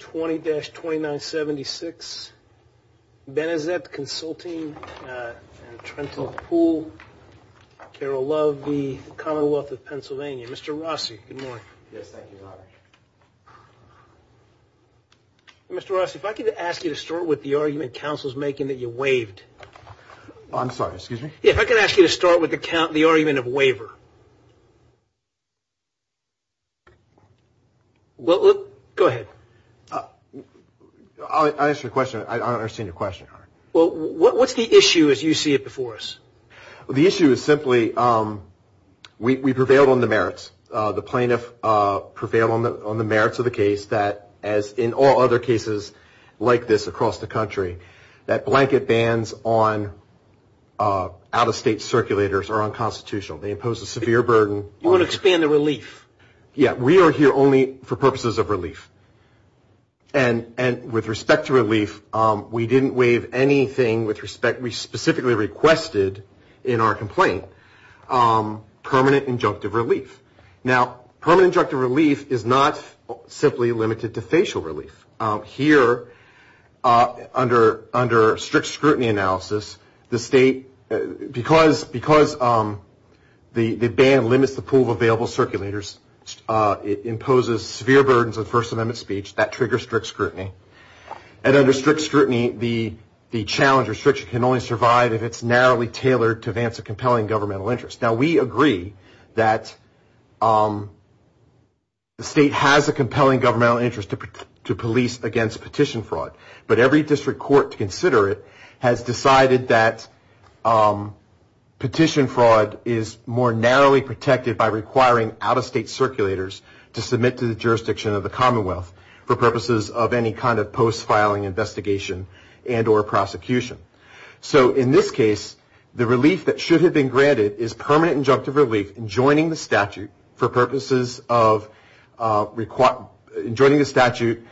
20-2976 Benezet Consulting and Trenton Pool Carol Love, the Commonwealth of Pennsylvania. Mr. Rossi, good morning. Yes, thank you, Robert. Mr. Rossi, if I could ask you to start with the argument Council's making that you waived. I'm sorry, excuse me? Yeah, if I could ask you to start with the argument of waiver. Go ahead. I'll answer your question. I don't understand your question. Well, what's the issue as you see it before us? The issue is simply we prevailed on the merits. The plaintiff prevailed on the merits of the case that, as in all other cases like this across the country, that blanket bans on out-of-state circulators are unconstitutional. They impose a severe burden. You want to expand the relief. Yeah, we are here only for purposes of relief. And with respect to relief, we didn't waive anything with respect. We specifically requested in our complaint permanent injunctive relief. Now, permanent injunctive relief is not simply limited to facial relief. Here, under strict scrutiny analysis, the state, because the ban limits the pool of available circulators, it imposes severe burdens on First Amendment speech that triggers strict scrutiny. And under strict scrutiny, the challenge or restriction can only survive if it's narrowly tailored to advance a compelling governmental interest. Now, we agree that the state has a compelling governmental interest to police against petition fraud. But every district court to consider it has decided that petition fraud is more narrowly protected by requiring out-of-state circulators to submit to the jurisdiction of the Commonwealth for purposes of any kind of post-filing investigation and or prosecution. So in this case, the relief that should have been granted is permanent injunctive relief and joining the statute for purposes of requiring, joining the statute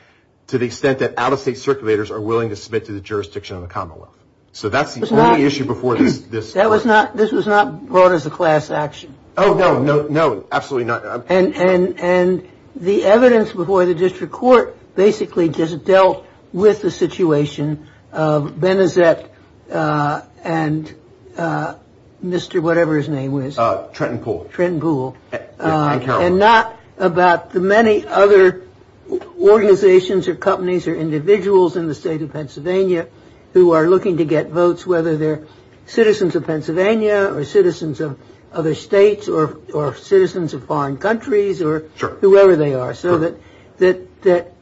to the extent that out-of-state circulators are willing to submit to the jurisdiction of the Commonwealth. So that's the only issue before this. That was not, this was not brought as a class action. Oh, no, no, absolutely not. And the evidence before the district court basically just dealt with the situation of Benazir and Mr. Whatever his name was. Trenton Poole. Trenton Poole. And not about the many other organizations or companies or individuals in the state of Pennsylvania who are looking to get votes, whether they're citizens of Pennsylvania or citizens of other states or citizens of foreign countries or whoever they are. So that,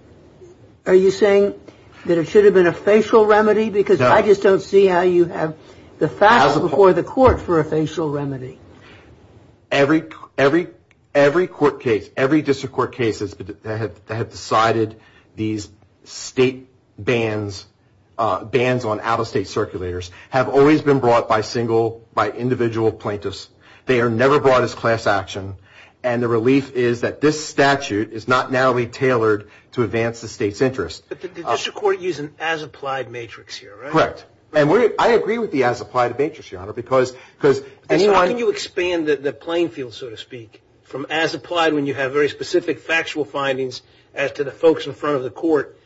are you saying that it should have been a facial remedy? Because I just don't see how you have the facts before the court for a facial remedy. Every court case, every district court case that have decided these state bans, bans on out-of-state circulators have always been brought by single, by individual plaintiffs. They are never brought as class action. And the relief is that this statute is not narrowly tailored to advance the state's interest. But the district court used an as-applied matrix here, right? Correct. And I agree with the as-applied matrix, Your Honor, because, because, Because how can you expand the playing field, so to speak, from as-applied when you have very specific factual findings as to the folks in front of the court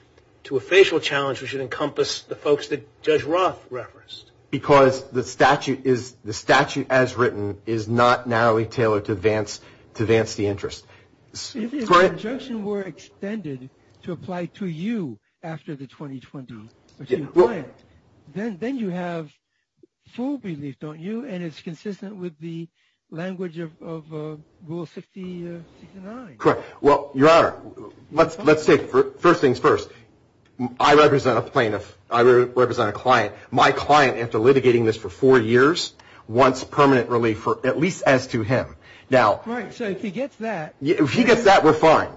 to a facial challenge which would encompass the folks that Judge Roth referenced? Because the statute is, the statute as written is not narrowly tailored to advance, to advance the interest. If the injunction were extended to apply to you after the 2020, then you have full relief, don't you? And it's consistent with the language of Rule 69. Correct. Well, Your Honor, let's take, first things first. I represent a plaintiff. I represent a client. My client, after litigating this for four years, wants permanent relief, at least as to him. Now. Right. So if he gets that. If he gets that, we're fine.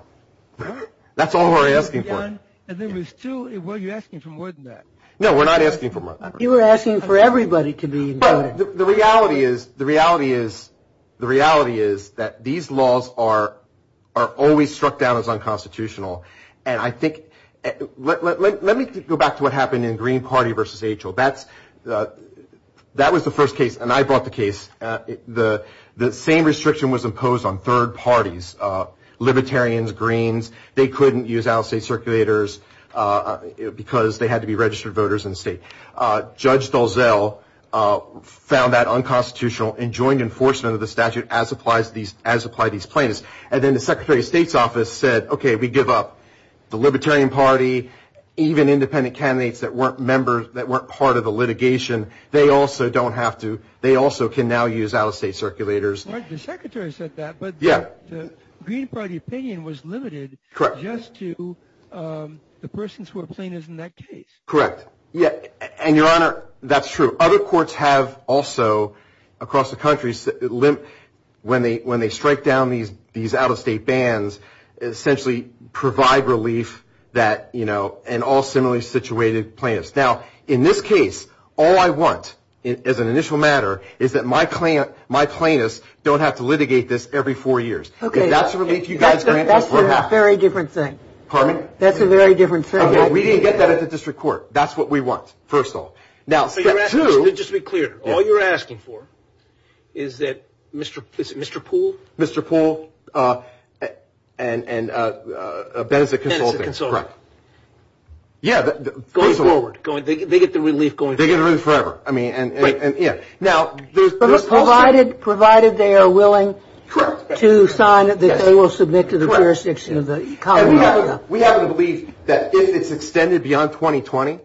That's all we're asking for. And there was two. Were you asking for more than that? No, we're not asking for more than that. You were asking for everybody to be included. The reality is, the reality is, the reality is that these laws are always struck down as unconstitutional. And I think, let me go back to what happened in Green Party versus H.O. That was the first case, and I brought the case. The same restriction was imposed on third parties, libertarians, greens. They couldn't use out-of-state circulators because they had to be registered voters in the state. Judge Dulzell found that unconstitutional and joined enforcement of the statute as apply these plaintiffs. And then the Secretary of State's office said, okay, we give up. The Libertarian Party, even independent candidates that weren't members, that weren't part of the litigation, they also don't have to, they also can now use out-of-state circulators. The Secretary said that, but the Green Party opinion was limited just to the persons who are plaintiffs in that case. Correct. And, Your Honor, that's true. Other courts have also, across the country, when they strike down these out-of-state bans, essentially provide relief that, you know, and all similarly situated plaintiffs. Now, in this case, all I want, as an initial matter, is that my plaintiffs don't have to litigate this every four years. Okay. That's the relief you guys grant? That's a very different thing. Pardon me? That's a very different thing. Okay. We didn't get that at the district court. That's what we want, first of all. Now, step two. Just to be clear, all you're asking for is that Mr. Poole. Mr. Poole and Benazit Consulting. Benazit Consulting. Correct. Yeah. Going forward. They get the relief going forward. They get the relief forever. Right. I mean, and, yeah. Now, there's also. Provided they are willing to sign it, that they will submit to the jurisdiction of the Commonwealth. We happen to believe that if it's extended beyond 2020,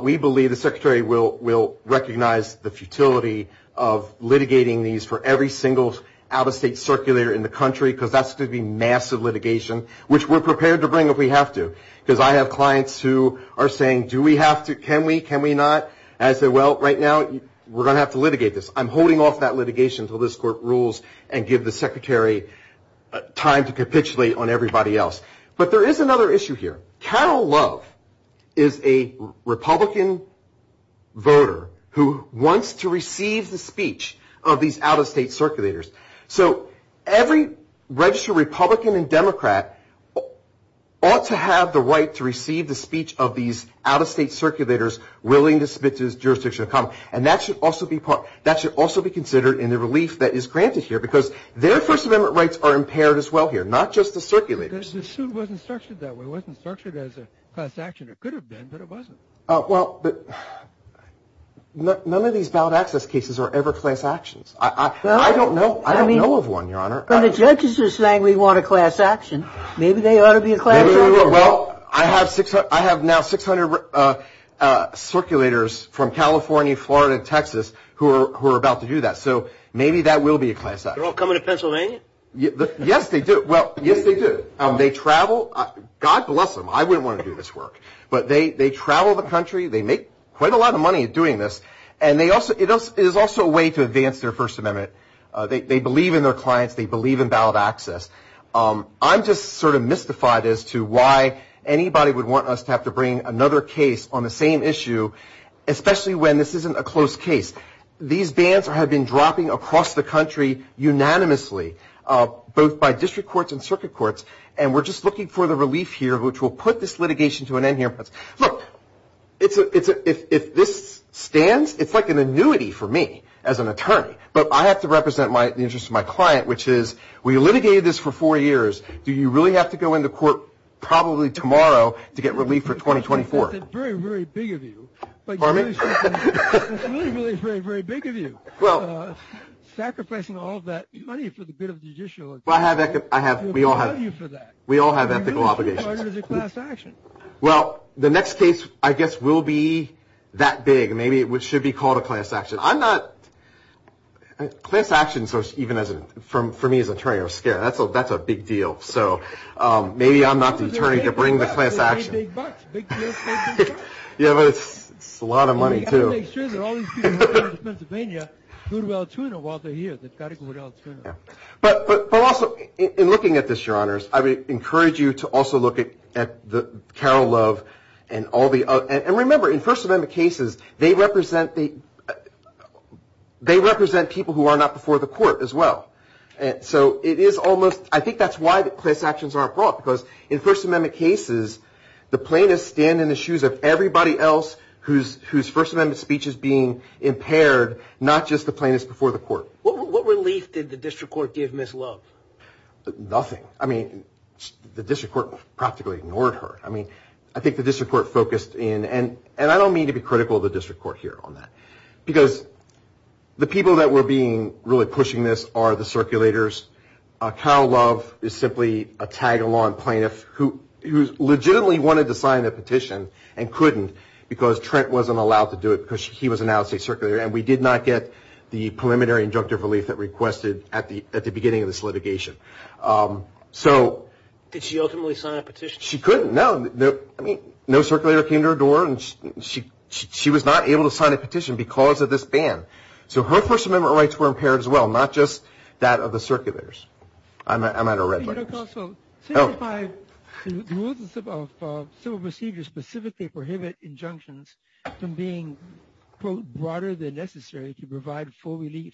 we believe the Secretary will recognize the futility of litigating these for every single out-of-state circulator in the country, because that's going to be massive litigation, which we're prepared to bring if we have to, because I have clients who are saying, do we have to? Can we? Can we not? And I say, well, right now, we're going to have to litigate this. I'm holding off that litigation until this court rules and give the Secretary time to capitulate on everybody else. But there is another issue here. Carol Love is a Republican voter who wants to receive the speech of these out-of-state circulators. So every registered Republican and Democrat ought to have the right to receive the speech of these out-of-state circulators willing to submit to the jurisdiction of the Commonwealth. And that should also be considered in the relief that is granted here, because their First Amendment rights are impaired as well here, not just the circulator's. The suit wasn't structured that way. It wasn't structured as a class action. It could have been, but it wasn't. Well, but none of these valid access cases are ever class actions. I don't know. I don't know of one, Your Honor. Maybe they ought to be a class action. Well, I have now 600 circulators from California, Florida, and Texas who are about to do that. So maybe that will be a class action. They're all coming to Pennsylvania? Yes, they do. Well, yes, they do. They travel. God bless them. I wouldn't want to do this work. But they travel the country. They make quite a lot of money doing this. And it is also a way to advance their First Amendment. They believe in their clients. They believe in valid access. I'm just sort of mystified as to why anybody would want us to have to bring another case on the same issue, especially when this isn't a close case. These bans have been dropping across the country unanimously, both by district courts and circuit courts. And we're just looking for the relief here, which will put this litigation to an end here. Look, if this stands, it's like an annuity for me as an attorney. But I have to represent the interest of my client, which is we litigated this for four years. Do you really have to go into court probably tomorrow to get relief for 2024? It's a very, very big of you. Pardon me? It's really, really a very, very big of you. Well. Sacrificing all of that money for the good of the judiciary. Well, I have. We all have. We all have ethical obligations. It's a class action. Well, the next case, I guess, will be that big. Maybe it should be called a class action. I'm not – class action, even for me as an attorney, I'm scared. That's a big deal. So maybe I'm not the attorney to bring the class action. Well, it's the same big bucks. Big deals pay big bucks. Yeah, but it's a lot of money, too. Well, we've got to make sure that all these people working in Pennsylvania go to Altoona while they're here. They've got to go to Altoona. Yeah. But also, in looking at this, Your Honors, I would encourage you to also look at Carol Love and all the – and remember, in First Amendment cases, they represent people who are not before the court as well. So it is almost – I think that's why the class actions aren't brought, because in First Amendment cases, the plaintiffs stand in the shoes of everybody else whose First Amendment speech is being impaired, not just the plaintiffs before the court. What relief did the district court give Ms. Love? Nothing. I mean, the district court practically ignored her. I mean, I think the district court focused in – and I don't mean to be critical of the district court here on that, because the people that were being – really pushing this are the circulators. Carol Love is simply a tag-along plaintiff who legitimately wanted to sign a petition and couldn't because Trent wasn't allowed to do it because he was an out-of-state circulator, and we did not get the preliminary injunctive relief that requested at the beginning of this litigation. So – Did she ultimately sign a petition? She couldn't. No. I mean, no circulator came to her door, and she was not able to sign a petition because of this ban. So her First Amendment rights were impaired as well, not just that of the circulators. I'm at a red light. But you could also – Oh. The rules of civil procedure specifically prohibit injunctions from being, quote, broader than necessary to provide full relief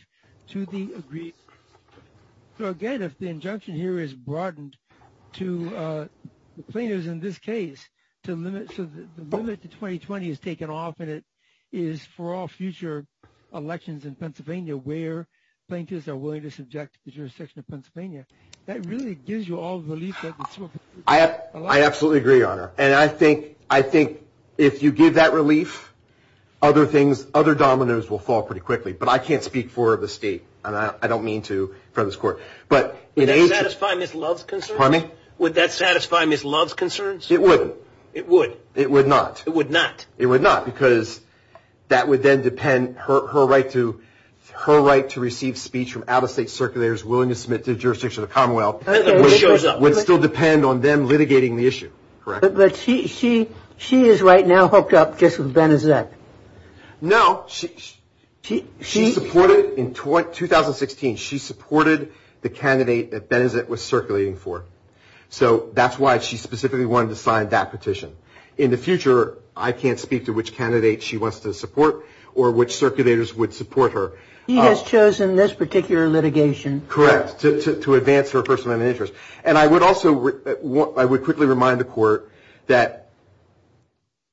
to the aggrieved. So, again, if the injunction here is broadened to the plaintiffs in this case to limit – so the limit to 2020 is taken off, and it is for all future elections in Pennsylvania where plaintiffs are willing to subject the jurisdiction of Pennsylvania, that really gives you all the relief that the civil procedure allows. I absolutely agree, Your Honor. And I think if you give that relief, other things – other dominoes will fall pretty quickly. But I can't speak for the state, and I don't mean to in front of this Court. But in Asia – Would that satisfy Ms. Love's concerns? Pardon me? Would that satisfy Ms. Love's concerns? It wouldn't. It would. It would not. It would not. It would not because that would then depend – her right to receive speech from out-of-state circulators willing to submit to the jurisdiction of the Commonwealth would still depend on them litigating the issue. Correct? But she is right now hooked up just with Benazir. Correct. No, she supported – in 2016, she supported the candidate that Benazir was circulating for. So that's why she specifically wanted to sign that petition. In the future, I can't speak to which candidate she wants to support or which circulators would support her. He has chosen this particular litigation. Correct, to advance her personal interest. And I would also – I would quickly remind the Court that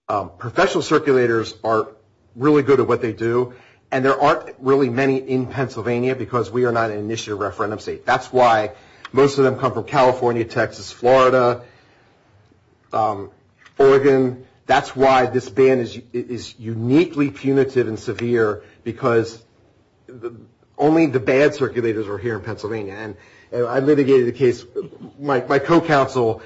professional circulators are really good at what they do, and there aren't really many in Pennsylvania because we are not an initiative referendum state. That's why most of them come from California, Texas, Florida, Oregon. That's why this ban is uniquely punitive and severe because only the bad circulators are here in Pennsylvania. And I litigated a case – my co-counsel,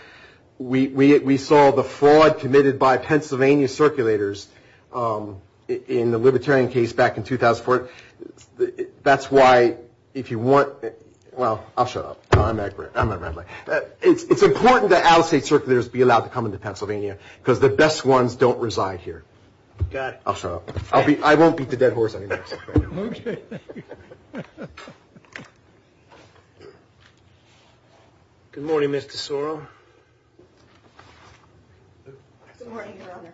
we saw the fraud committed by Pennsylvania circulators in the libertarian case back in 2004. That's why if you want – well, I'll shut up. I'm not – it's important that out-of-state circulators be allowed to come into Pennsylvania because the best ones don't reside here. Got it. I'll shut up. I won't beat the dead horse. Okay. Good morning, Mr. Sorrell. Good morning, Your Honor.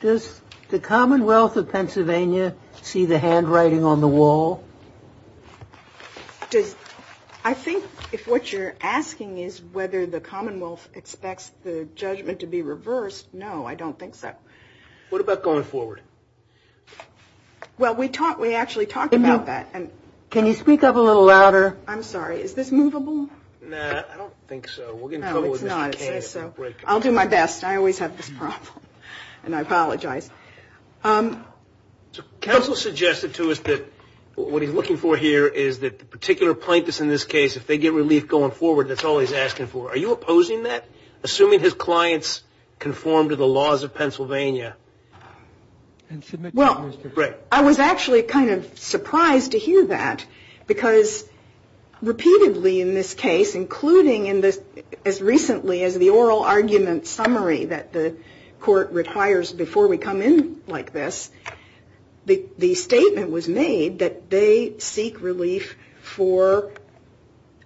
Does the Commonwealth of Pennsylvania see the handwriting on the wall? Does – I think if what you're asking is whether the Commonwealth expects the judgment to be reversed, no, I don't think so. What about going forward? Well, we actually talked about that. Can you speak up a little louder? I'm sorry. Is this movable? No, I don't think so. We're getting total with this. No, it's not. I'll do my best. I always have this problem, and I apologize. Counsel suggested to us that what he's looking for here is that the particular plaintiffs in this case, if they get relief going forward, that's all he's asking for. Are you opposing that? Assuming his clients conform to the laws of Pennsylvania. Well, I was actually kind of surprised to hear that because repeatedly in this case, including as recently as the oral argument summary that the court requires before we come in like this, the statement was made that they seek relief for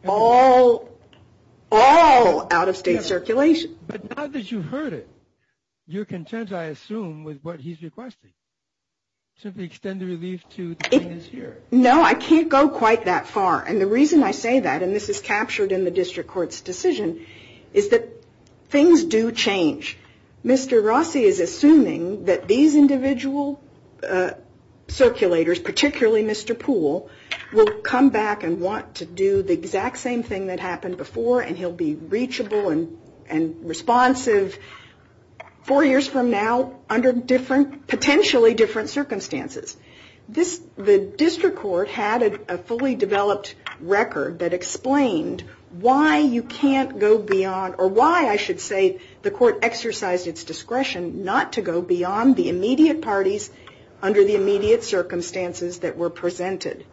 all out-of-state circulation. But now that you've heard it, you're content, I assume, with what he's requesting. Simply extend the relief to things here. No, I can't go quite that far. And the reason I say that, and this is captured in the district court's decision, is that things do change. Mr. Rossi is assuming that these individual circulators, particularly Mr. Poole, will come back and want to do the exact same thing that happened before, and he'll be reachable and responsive four years from now under potentially different circumstances. The district court had a fully developed record that explained why you can't go beyond, or why I should say the court exercised its discretion not to go beyond the immediate parties under the immediate circumstances that were presented.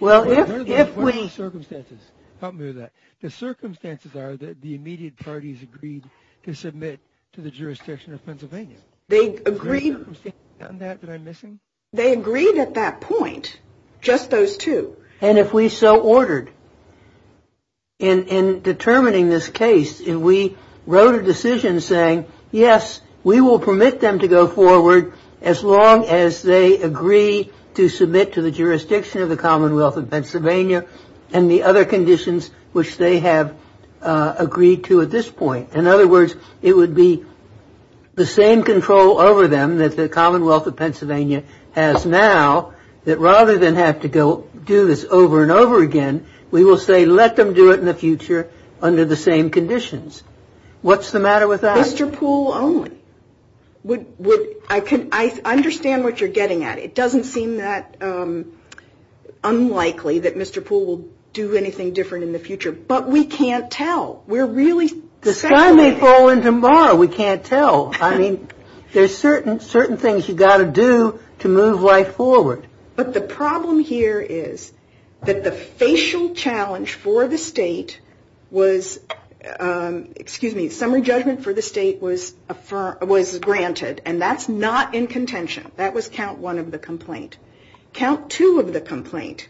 Well, under those circumstances, help me with that. The circumstances are that the immediate parties agreed to submit to the jurisdiction of Pennsylvania. They agreed at that point, just those two. And if we so ordered, in determining this case, we wrote a decision saying, yes, we will permit them to go forward as long as they agree to submit to the jurisdiction of the Commonwealth of Pennsylvania and the other conditions which they have agreed to at this point. In other words, it would be the same control over them that the Commonwealth of Pennsylvania has now, that rather than have to go do this over and over again, we will say let them do it in the future under the same conditions. What's the matter with that? Mr. Poole only. I understand what you're getting at. It doesn't seem that unlikely that Mr. Poole will do anything different in the future, but we can't tell. The sky may fall in tomorrow. We can't tell. I mean, there's certain things you've got to do to move life forward. But the problem here is that the facial challenge for the State was, excuse me, summary judgment for the State was granted, and that's not in contention. That was count one of the complaint. Count two of the complaint.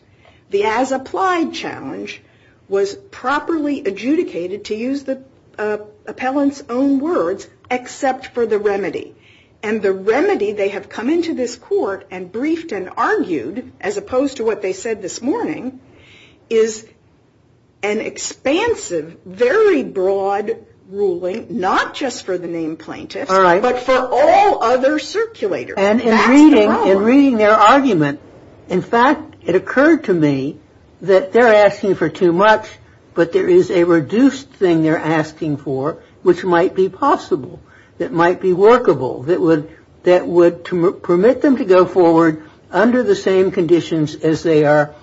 The as-applied challenge was properly adjudicated, to use the appellant's own words, except for the remedy. And the remedy they have come into this court and briefed and argued, as opposed to what they said this morning, is an expansive, very broad ruling, not just for the named plaintiffs, but for all other circulators. And in reading their argument, in fact, it occurred to me that they're asking for too much, but there is a reduced thing they're asking for, which might be possible, that might be workable, that would permit them to go forward under the same conditions as they are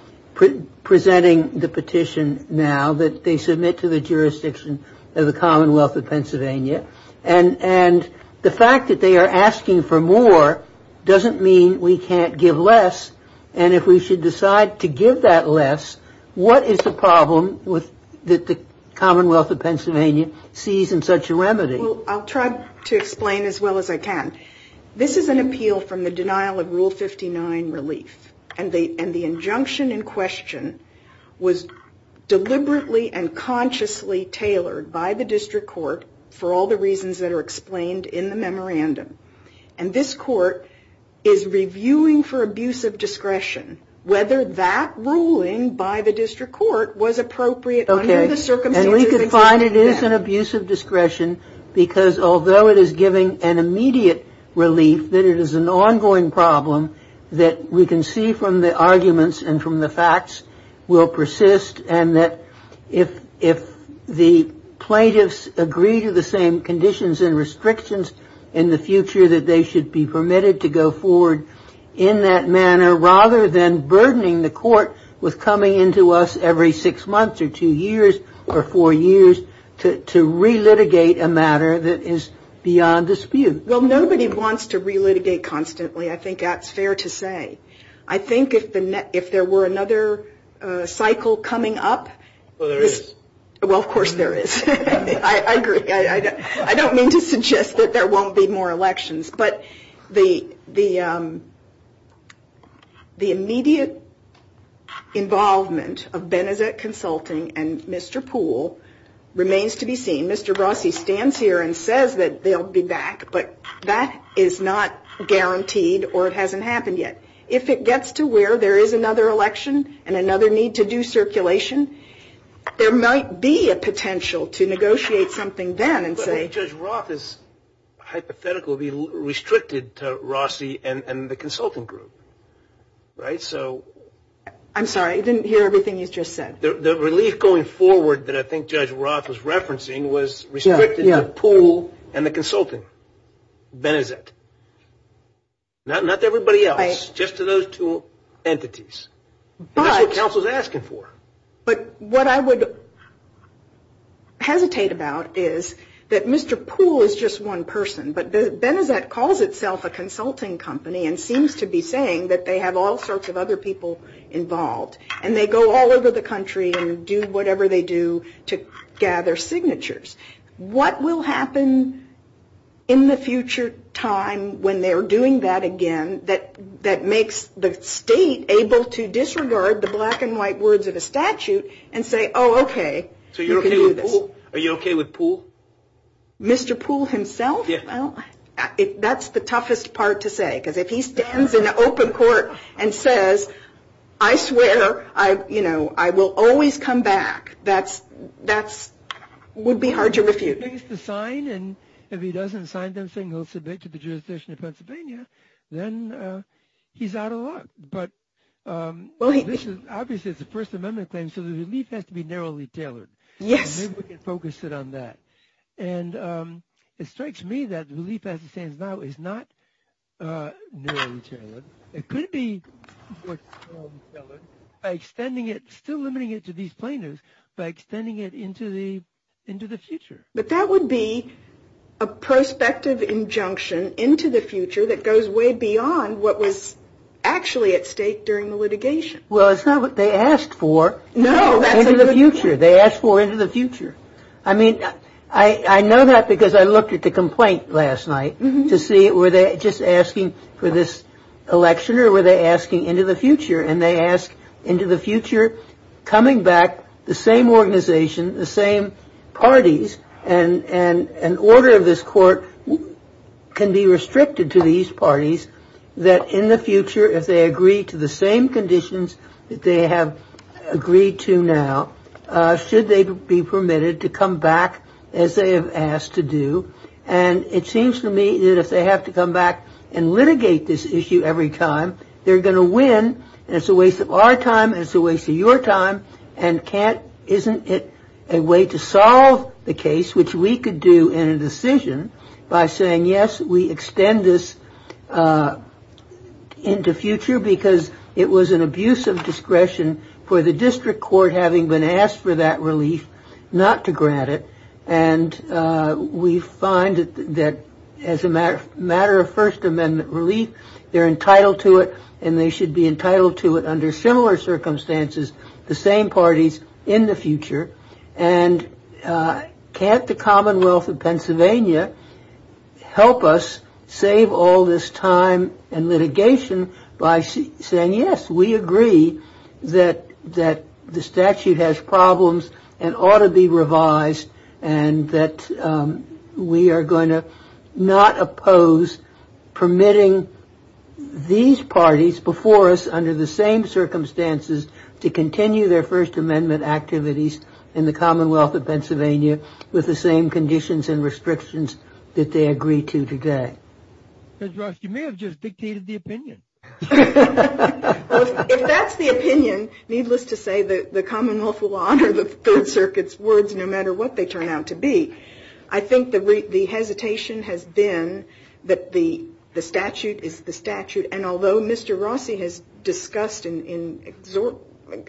presenting the petition now, that they submit to the jurisdiction of the Commonwealth of Pennsylvania. And the fact that they are asking for more doesn't mean we can't give less, and if we should decide to give that less, what is the problem that the Commonwealth of Pennsylvania sees in such a remedy? Well, I'll try to explain as well as I can. This is an appeal from the denial of Rule 59 relief, and the injunction in question was deliberately and consciously tailored by the district court for all the reasons that are explained in the memorandum. And this court is reviewing for abuse of discretion whether that ruling by the district court was appropriate under the circumstances. Okay. And we could find it is an abuse of discretion because although it is giving an immediate relief, that it is an ongoing problem that we can see from the arguments and from the facts will persist, and that if the plaintiffs agree to the same conditions and restrictions in the future, that they should be permitted to go forward in that manner rather than burdening the court with coming into us every six months or two years or four years to relitigate a matter that is beyond dispute. Well, nobody wants to relitigate constantly. I think that's fair to say. I think if there were another cycle coming up. Well, there is. Well, of course there is. I agree. I don't mean to suggest that there won't be more elections, but the immediate involvement of Benezet Consulting and Mr. Poole remains to be seen. Mr. Rossi stands here and says that they'll be back, but that is not guaranteed or it hasn't happened yet. If it gets to where there is another election and another need to do circulation, there might be a potential to negotiate something then and say. Judge Roth's hypothetical would be restricted to Rossi and the consulting group, right? So. I'm sorry, I didn't hear everything you just said. The relief going forward that I think Judge Roth was referencing was restricted to Poole and the consulting, Benezet. Not everybody else. Right. Just to those two entities. But. That's what counsel is asking for. But what I would hesitate about is that Mr. Poole is just one person, but Benezet calls itself a consulting company and seems to be saying that they have all sorts of other people involved, and they go all over the country and do whatever they do to gather signatures. What will happen in the future time when they're doing that again that makes the state able to disregard the black and white words of a statute and say, oh, okay. So you're okay with Poole? Are you okay with Poole? Mr. Poole himself? Yeah. Well, that's the toughest part to say, because if he stands in an open court and says, I swear, you know, I will always come back, that would be hard to refute. He has to sign, and if he doesn't sign them saying he'll submit to the jurisdiction of Pennsylvania, then he's out of luck. But obviously it's a First Amendment claim, so the relief has to be narrowly tailored. Yes. Maybe we can focus it on that. And it strikes me that the relief as it stands now is not narrowly tailored. It could be narrowly tailored by extending it, still limiting it to these plaintiffs, by extending it into the future. But that would be a prospective injunction into the future that goes way beyond what was actually at stake during the litigation. Well, it's not what they asked for. No, that's a good point. Into the future. They asked for into the future. I mean, I know that because I looked at the complaint last night to see were they just asking for this election or were they asking into the future? And they ask into the future coming back the same organization, the same parties, and an order of this court can be restricted to these parties that in the future, if they agree to the same conditions that they have agreed to now, should they be permitted to come back as they have asked to do? And it seems to me that if they have to come back and litigate this issue every time, they're going to win. It's a waste of our time. It's a waste of your time. Isn't it a way to solve the case, which we could do in a decision by saying, yes, we extend this into future because it was an abuse of discretion for the district court, having been asked for that relief, not to grant it. And we find that as a matter of First Amendment relief, they're entitled to it. And they should be entitled to it under similar circumstances, the same parties in the future. And can't the Commonwealth of Pennsylvania help us save all this time and litigation by saying, yes, we agree that that the statute has problems and ought to be revised and that we are going to not oppose permitting these parties before us under the same circumstances to continue their First Amendment activities in the Commonwealth of Pennsylvania with the same conditions and restrictions that they agree to today? Judge Ross, you may have just dictated the opinion. If that's the opinion, needless to say, the Commonwealth will honor the Third Circuit's words no matter what they turn out to be. I think the hesitation has been that the statute is the statute. And although Mr. Rossi has discussed in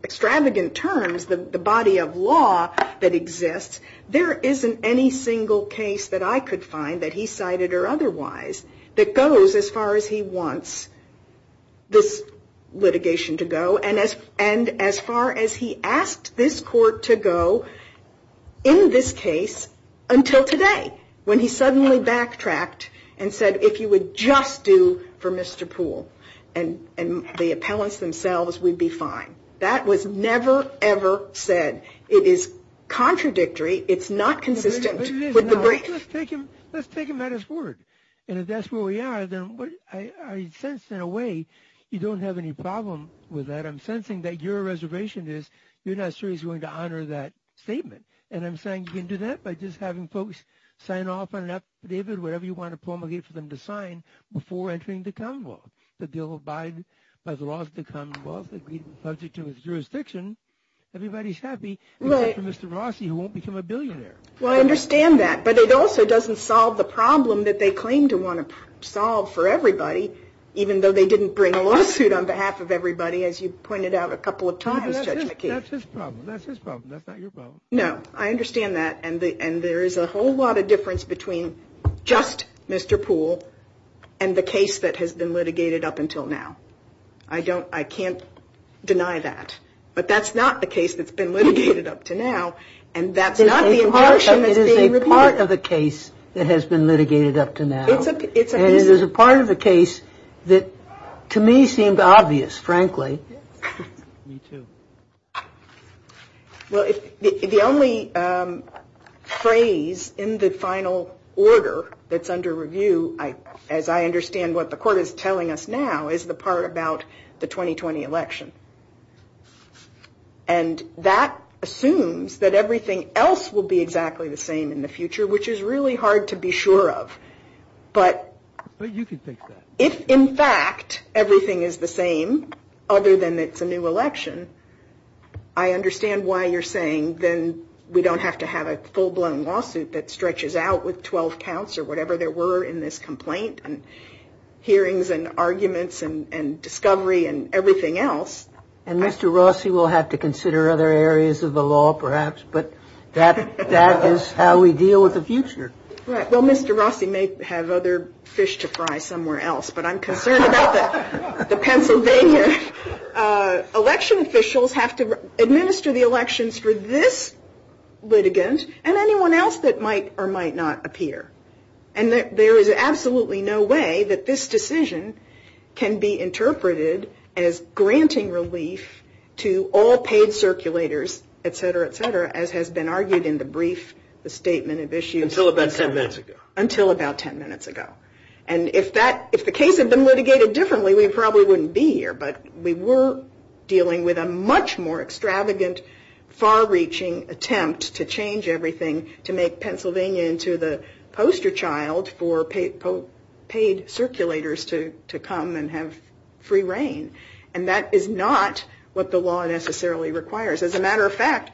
extravagant terms the body of law that exists, there isn't any single case that I could find that he cited or otherwise that goes as far as he wants this litigation to go. And as far as he asked this court to go in this case until today, when he suddenly backtracked and said, if you would just do for Mr. Poole and the appellants themselves, we'd be fine. That was never, ever said. It is contradictory. It's not consistent with the brief. Let's take him at his word. And if that's where we are, then I sense in a way you don't have any problem with that. I'm sensing that your reservation is you're not seriously going to honor that statement. And I'm saying you can do that by just having folks sign off on an affidavit, whatever you want to promulgate for them to sign before entering the Commonwealth. The deal of Biden has lost the Commonwealth. He's subject to his jurisdiction. Everybody's happy except for Mr. Rossi, who won't become a billionaire. Well, I understand that. But it also doesn't solve the problem that they claim to want to solve for everybody, even though they didn't bring a lawsuit on behalf of everybody, as you pointed out a couple of times, Judge McKee. That's his problem. That's his problem. That's not your problem. No, I understand that. And there is a whole lot of difference between just Mr. Poole and the case that has been litigated up until now. I can't deny that. But that's not the case that's been litigated up to now. And that's not the impartialness being repeated. It is a part of the case that has been litigated up to now. And it is a part of the case that to me seemed obvious, frankly. Me too. Well, the only phrase in the final order that's under review, as I understand what the court is telling us now, is the part about the 2020 election. And that assumes that everything else will be exactly the same in the future, which is really hard to be sure of. But you can think that. If, in fact, everything is the same other than it's a new election, I understand why you're saying then we don't have to have a full-blown lawsuit that stretches out with 12 counts or whatever there were in this complaint and hearings and arguments and discovery and everything else. And Mr. Rossi will have to consider other areas of the law perhaps, but that is how we deal with the future. Well, Mr. Rossi may have other fish to fry somewhere else, but I'm concerned about the Pennsylvania election officials have to administer the elections for this litigant and anyone else that might or might not appear. And there is absolutely no way that this decision can be interpreted as granting relief to all paid circulators, et cetera, et cetera, as has been argued in the brief, the statement of issues. Until about 10 minutes ago. Until about 10 minutes ago. And if the case had been litigated differently, we probably wouldn't be here. But we were dealing with a much more extravagant, far-reaching attempt to change everything, to make Pennsylvania into the poster child for paid circulators to come and have free reign. And that is not what the law necessarily requires. As a matter of fact,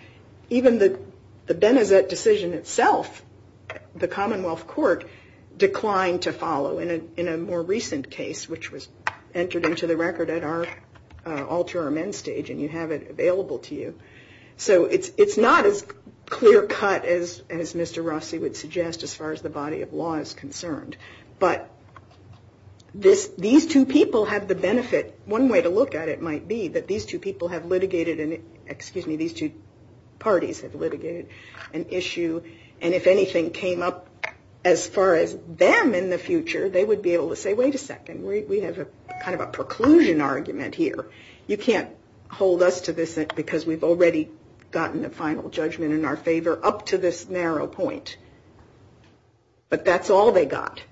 even the Benezet decision itself, the Commonwealth Court declined to follow in a more recent case, which was entered into the record at our alter amends stage and you have it available to you. So it's not as clear cut as Mr. Rossi would suggest as far as the body of law is concerned. But these two people have the benefit. One way to look at it might be that these two people have litigated an excuse me, these two parties have litigated an issue. And if anything came up as far as them in the future, they would be able to say, wait a second. We have a kind of a preclusion argument here. You can't hold us to this because we've already gotten a final judgment in our favor up to this narrow point. But that's all they got.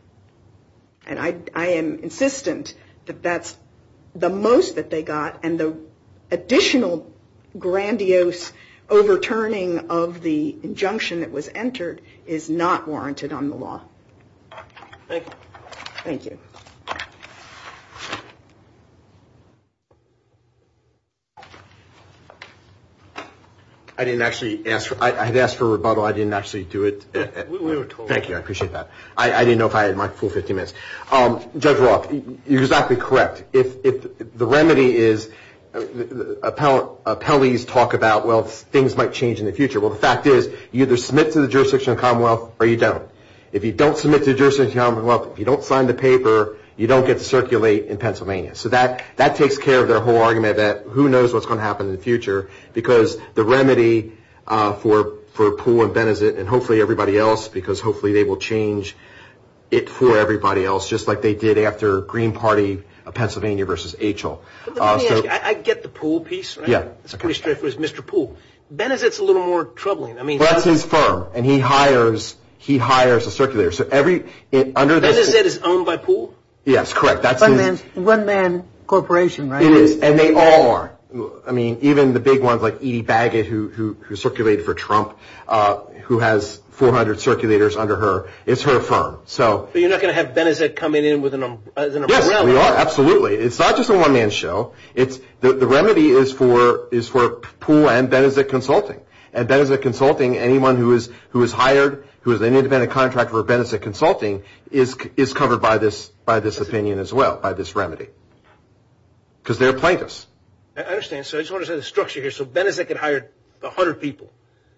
And I am insistent that that's the most that they got. And the additional grandiose overturning of the injunction that was entered is not warranted on the law. Thank you. I didn't actually ask. I had asked for rebuttal. I didn't actually do it. Thank you. I appreciate that. I didn't know if I had my full 15 minutes. Judge Roth, you're exactly correct. The remedy is appellees talk about, well, things might change in the future. Well, the fact is you either submit to the jurisdiction of the Commonwealth or you don't. If you don't submit to the jurisdiction of the Commonwealth, if you don't sign the paper, you don't get to circulate in Pennsylvania. So that takes care of their whole argument that who knows what's going to happen in the future. Because the remedy for Poole and Benezet and hopefully everybody else, because hopefully they will change it for everybody else, just like they did after Green Party Pennsylvania versus HL. Let me ask you. I get the Poole piece. Yeah. It's pretty straightforward. It's Mr. Poole. Benezet's a little more troubling. That's his firm, and he hires a circulator. Benezet is owned by Poole? Yes, correct. That's his. One man corporation, right? It is, and they all are. I mean, even the big ones like Edie Baggett, who circulated for Trump, who has 400 circulators under her. It's her firm. So you're not going to have Benezet coming in with an umbrella? Yes, we are. Absolutely. It's not just a one-man show. The remedy is for Poole and Benezet Consulting. And Benezet Consulting, anyone who is hired, who is an independent contractor for Benezet Consulting, is covered by this opinion as well, by this remedy, because they're plaintiffs. I understand. So I just want to say the structure here. So Benezet can hire 100 people.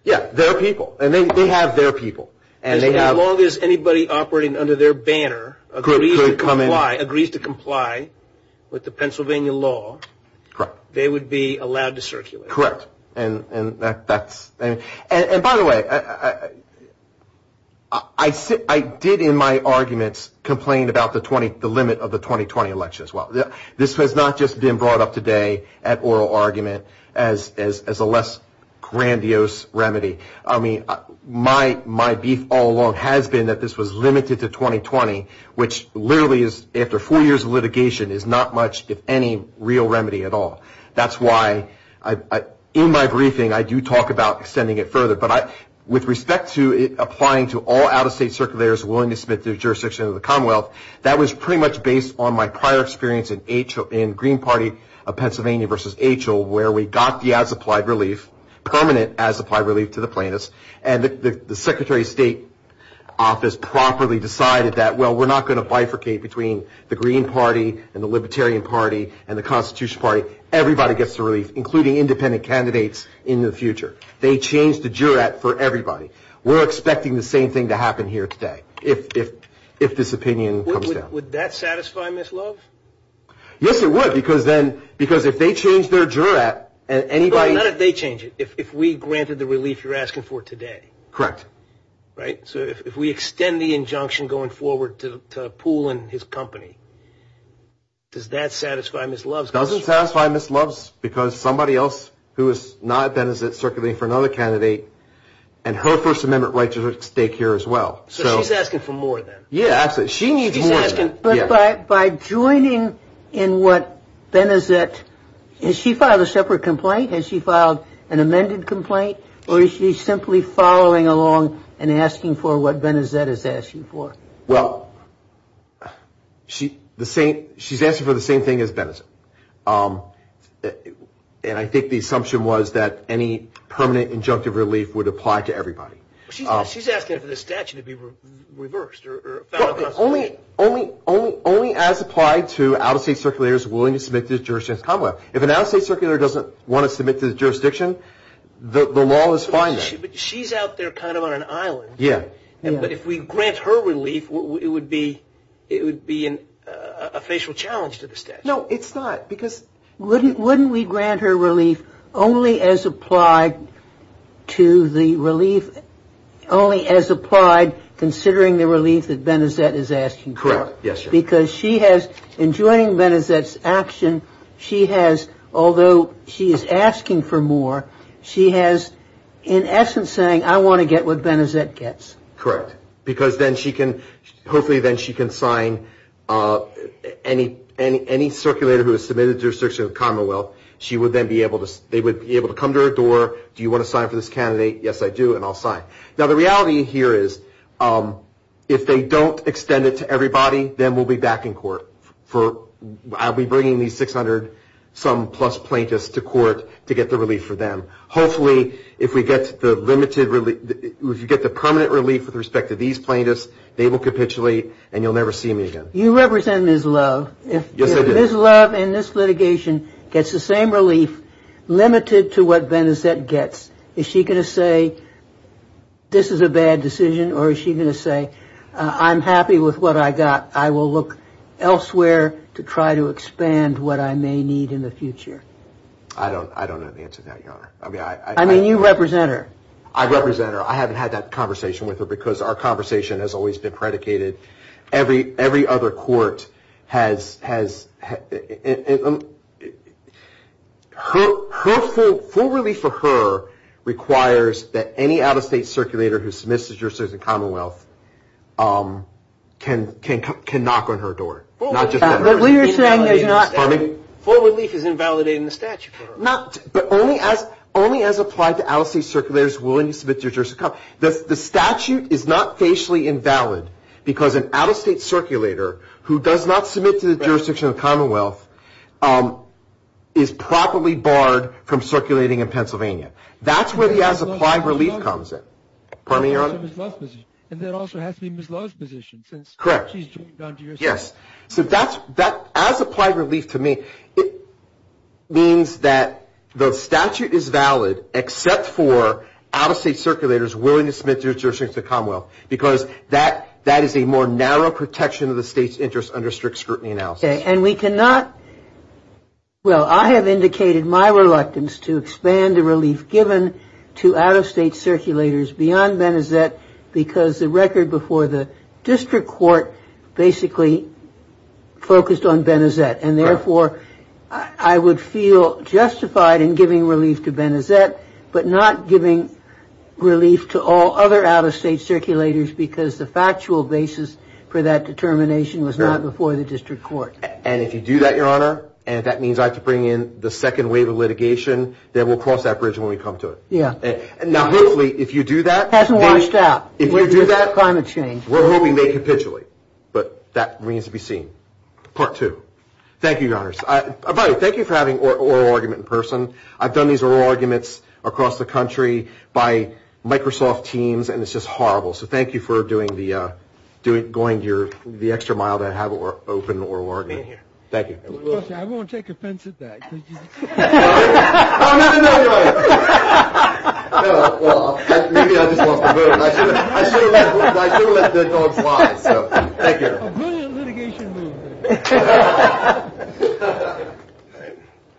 Yeah, they're people, and they have their people. As long as anybody operating under their banner agrees to comply with the Pennsylvania law, they would be allowed to circulate. Correct. And by the way, I did in my arguments complain about the limit of the 2020 election as well. This has not just been brought up today at oral argument as a less grandiose remedy. I mean, my beef all along has been that this was limited to 2020, which literally is, after four years of litigation, is not much, if any, real remedy at all. That's why in my briefing I do talk about extending it further. But with respect to it applying to all out-of-state circulators willing to submit their jurisdiction to the Commonwealth, that was pretty much based on my prior experience in Green Party of Pennsylvania v. H.O., where we got the as-applied relief, permanent as-applied relief to the plaintiffs, and the Secretary of State Office properly decided that, well, we're not going to bifurcate between the Green Party and the Libertarian Party and the Constitutional Party. Everybody gets the relief, including independent candidates in the future. They changed the jurat for everybody. We're expecting the same thing to happen here today if this opinion comes down. Would that satisfy Ms. Love? Yes, it would, because if they change their jurat and anybody – Well, not if they change it. If we granted the relief you're asking for today. Correct. Right? So if we extend the injunction going forward to Poole and his company, does that satisfy Ms. Love? It doesn't satisfy Ms. Love because somebody else who is not Benezit is circling for another candidate, and her First Amendment right is at stake here as well. So she's asking for more then? Yeah, absolutely. She needs more then. But by joining in what Benezit – has she filed a separate complaint? Has she filed an amended complaint? Or is she simply following along and asking for what Benezit is asking for? Well, she's asking for the same thing as Benezit, and I think the assumption was that any permanent injunctive relief would apply to everybody. She's asking for the statute to be reversed. Only as applied to out-of-state circulators willing to submit to the jurisdiction. If an out-of-state circulator doesn't want to submit to the jurisdiction, the law is fine then. But she's out there kind of on an island. Yeah. But if we grant her relief, it would be a facial challenge to the statute. No, it's not. Wouldn't we grant her relief only as applied considering the relief that Benezit is asking for? Correct. Yes, sir. Because in joining Benezit's action, although she is asking for more, she is in essence saying, I want to get what Benezit gets. Correct. Because then she can hopefully sign any circulator who is submitted to the jurisdiction of the Commonwealth. They would be able to come to her door, do you want to sign for this candidate? Yes, I do, and I'll sign. Now, the reality here is if they don't extend it to everybody, then we'll be back in court. I'll be bringing these 600-some-plus plaintiffs to court to get the relief for them. Hopefully, if we get the permanent relief with respect to these plaintiffs, they will capitulate and you'll never see me again. You represent Ms. Love. Yes, I do. If Ms. Love in this litigation gets the same relief limited to what Benezit gets, is she going to say this is a bad decision or is she going to say I'm happy with what I got, I will look elsewhere to try to expand what I may need in the future? I don't know the answer to that, Your Honor. I mean, you represent her. I represent her. I haven't had that conversation with her because our conversation has always been predicated. Every other court has – her full relief for her requires that any out-of-state circulator who submits to Jurisdiction of the Commonwealth can knock on her door, not just on hers. But we are saying there's not – full relief is invalidating the statute for her. Not – but only as applied to out-of-state circulators willing to submit to the Jurisdiction of the Commonwealth. The statute is not facially invalid because an out-of-state circulator who does not submit to the Jurisdiction of the Commonwealth is properly barred from circulating in Pennsylvania. That's where the as-applied relief comes in. Pardon me, Your Honor? Ms. Love's position. And that also has to be Ms. Love's position. Correct. Yes. So that's – as-applied relief to me, it means that the statute is valid except for out-of-state circulators willing to submit to the Jurisdiction of the Commonwealth because that is a more narrow protection of the state's interests under strict scrutiny analysis. Okay. And we cannot – well, I have indicated my reluctance to expand the relief given to out-of-state circulators beyond Benezette because the record before the district court basically focused on Benezette. And therefore, I would feel justified in giving relief to Benezette but not giving relief to all other out-of-state circulators because the factual basis for that determination was not before the district court. And if you do that, Your Honor, and if that means I have to bring in the second wave of litigation, then we'll cross that bridge when we come to it. Yeah. Now, hopefully, if you do that – It hasn't washed out with climate change. If you do that, we're hoping they capitulate. But that remains to be seen. Part two. Thank you, Your Honors. By the way, thank you for having oral argument in person. I've done these oral arguments across the country by Microsoft teams, and it's just horrible. So thank you for doing the – going the extra mile to have an open oral argument. Thank you. I won't take offense at that. I'll never know, Your Honor. Maybe I just lost the vote. I should have let the dog slide. So thank you. A brilliant litigation move.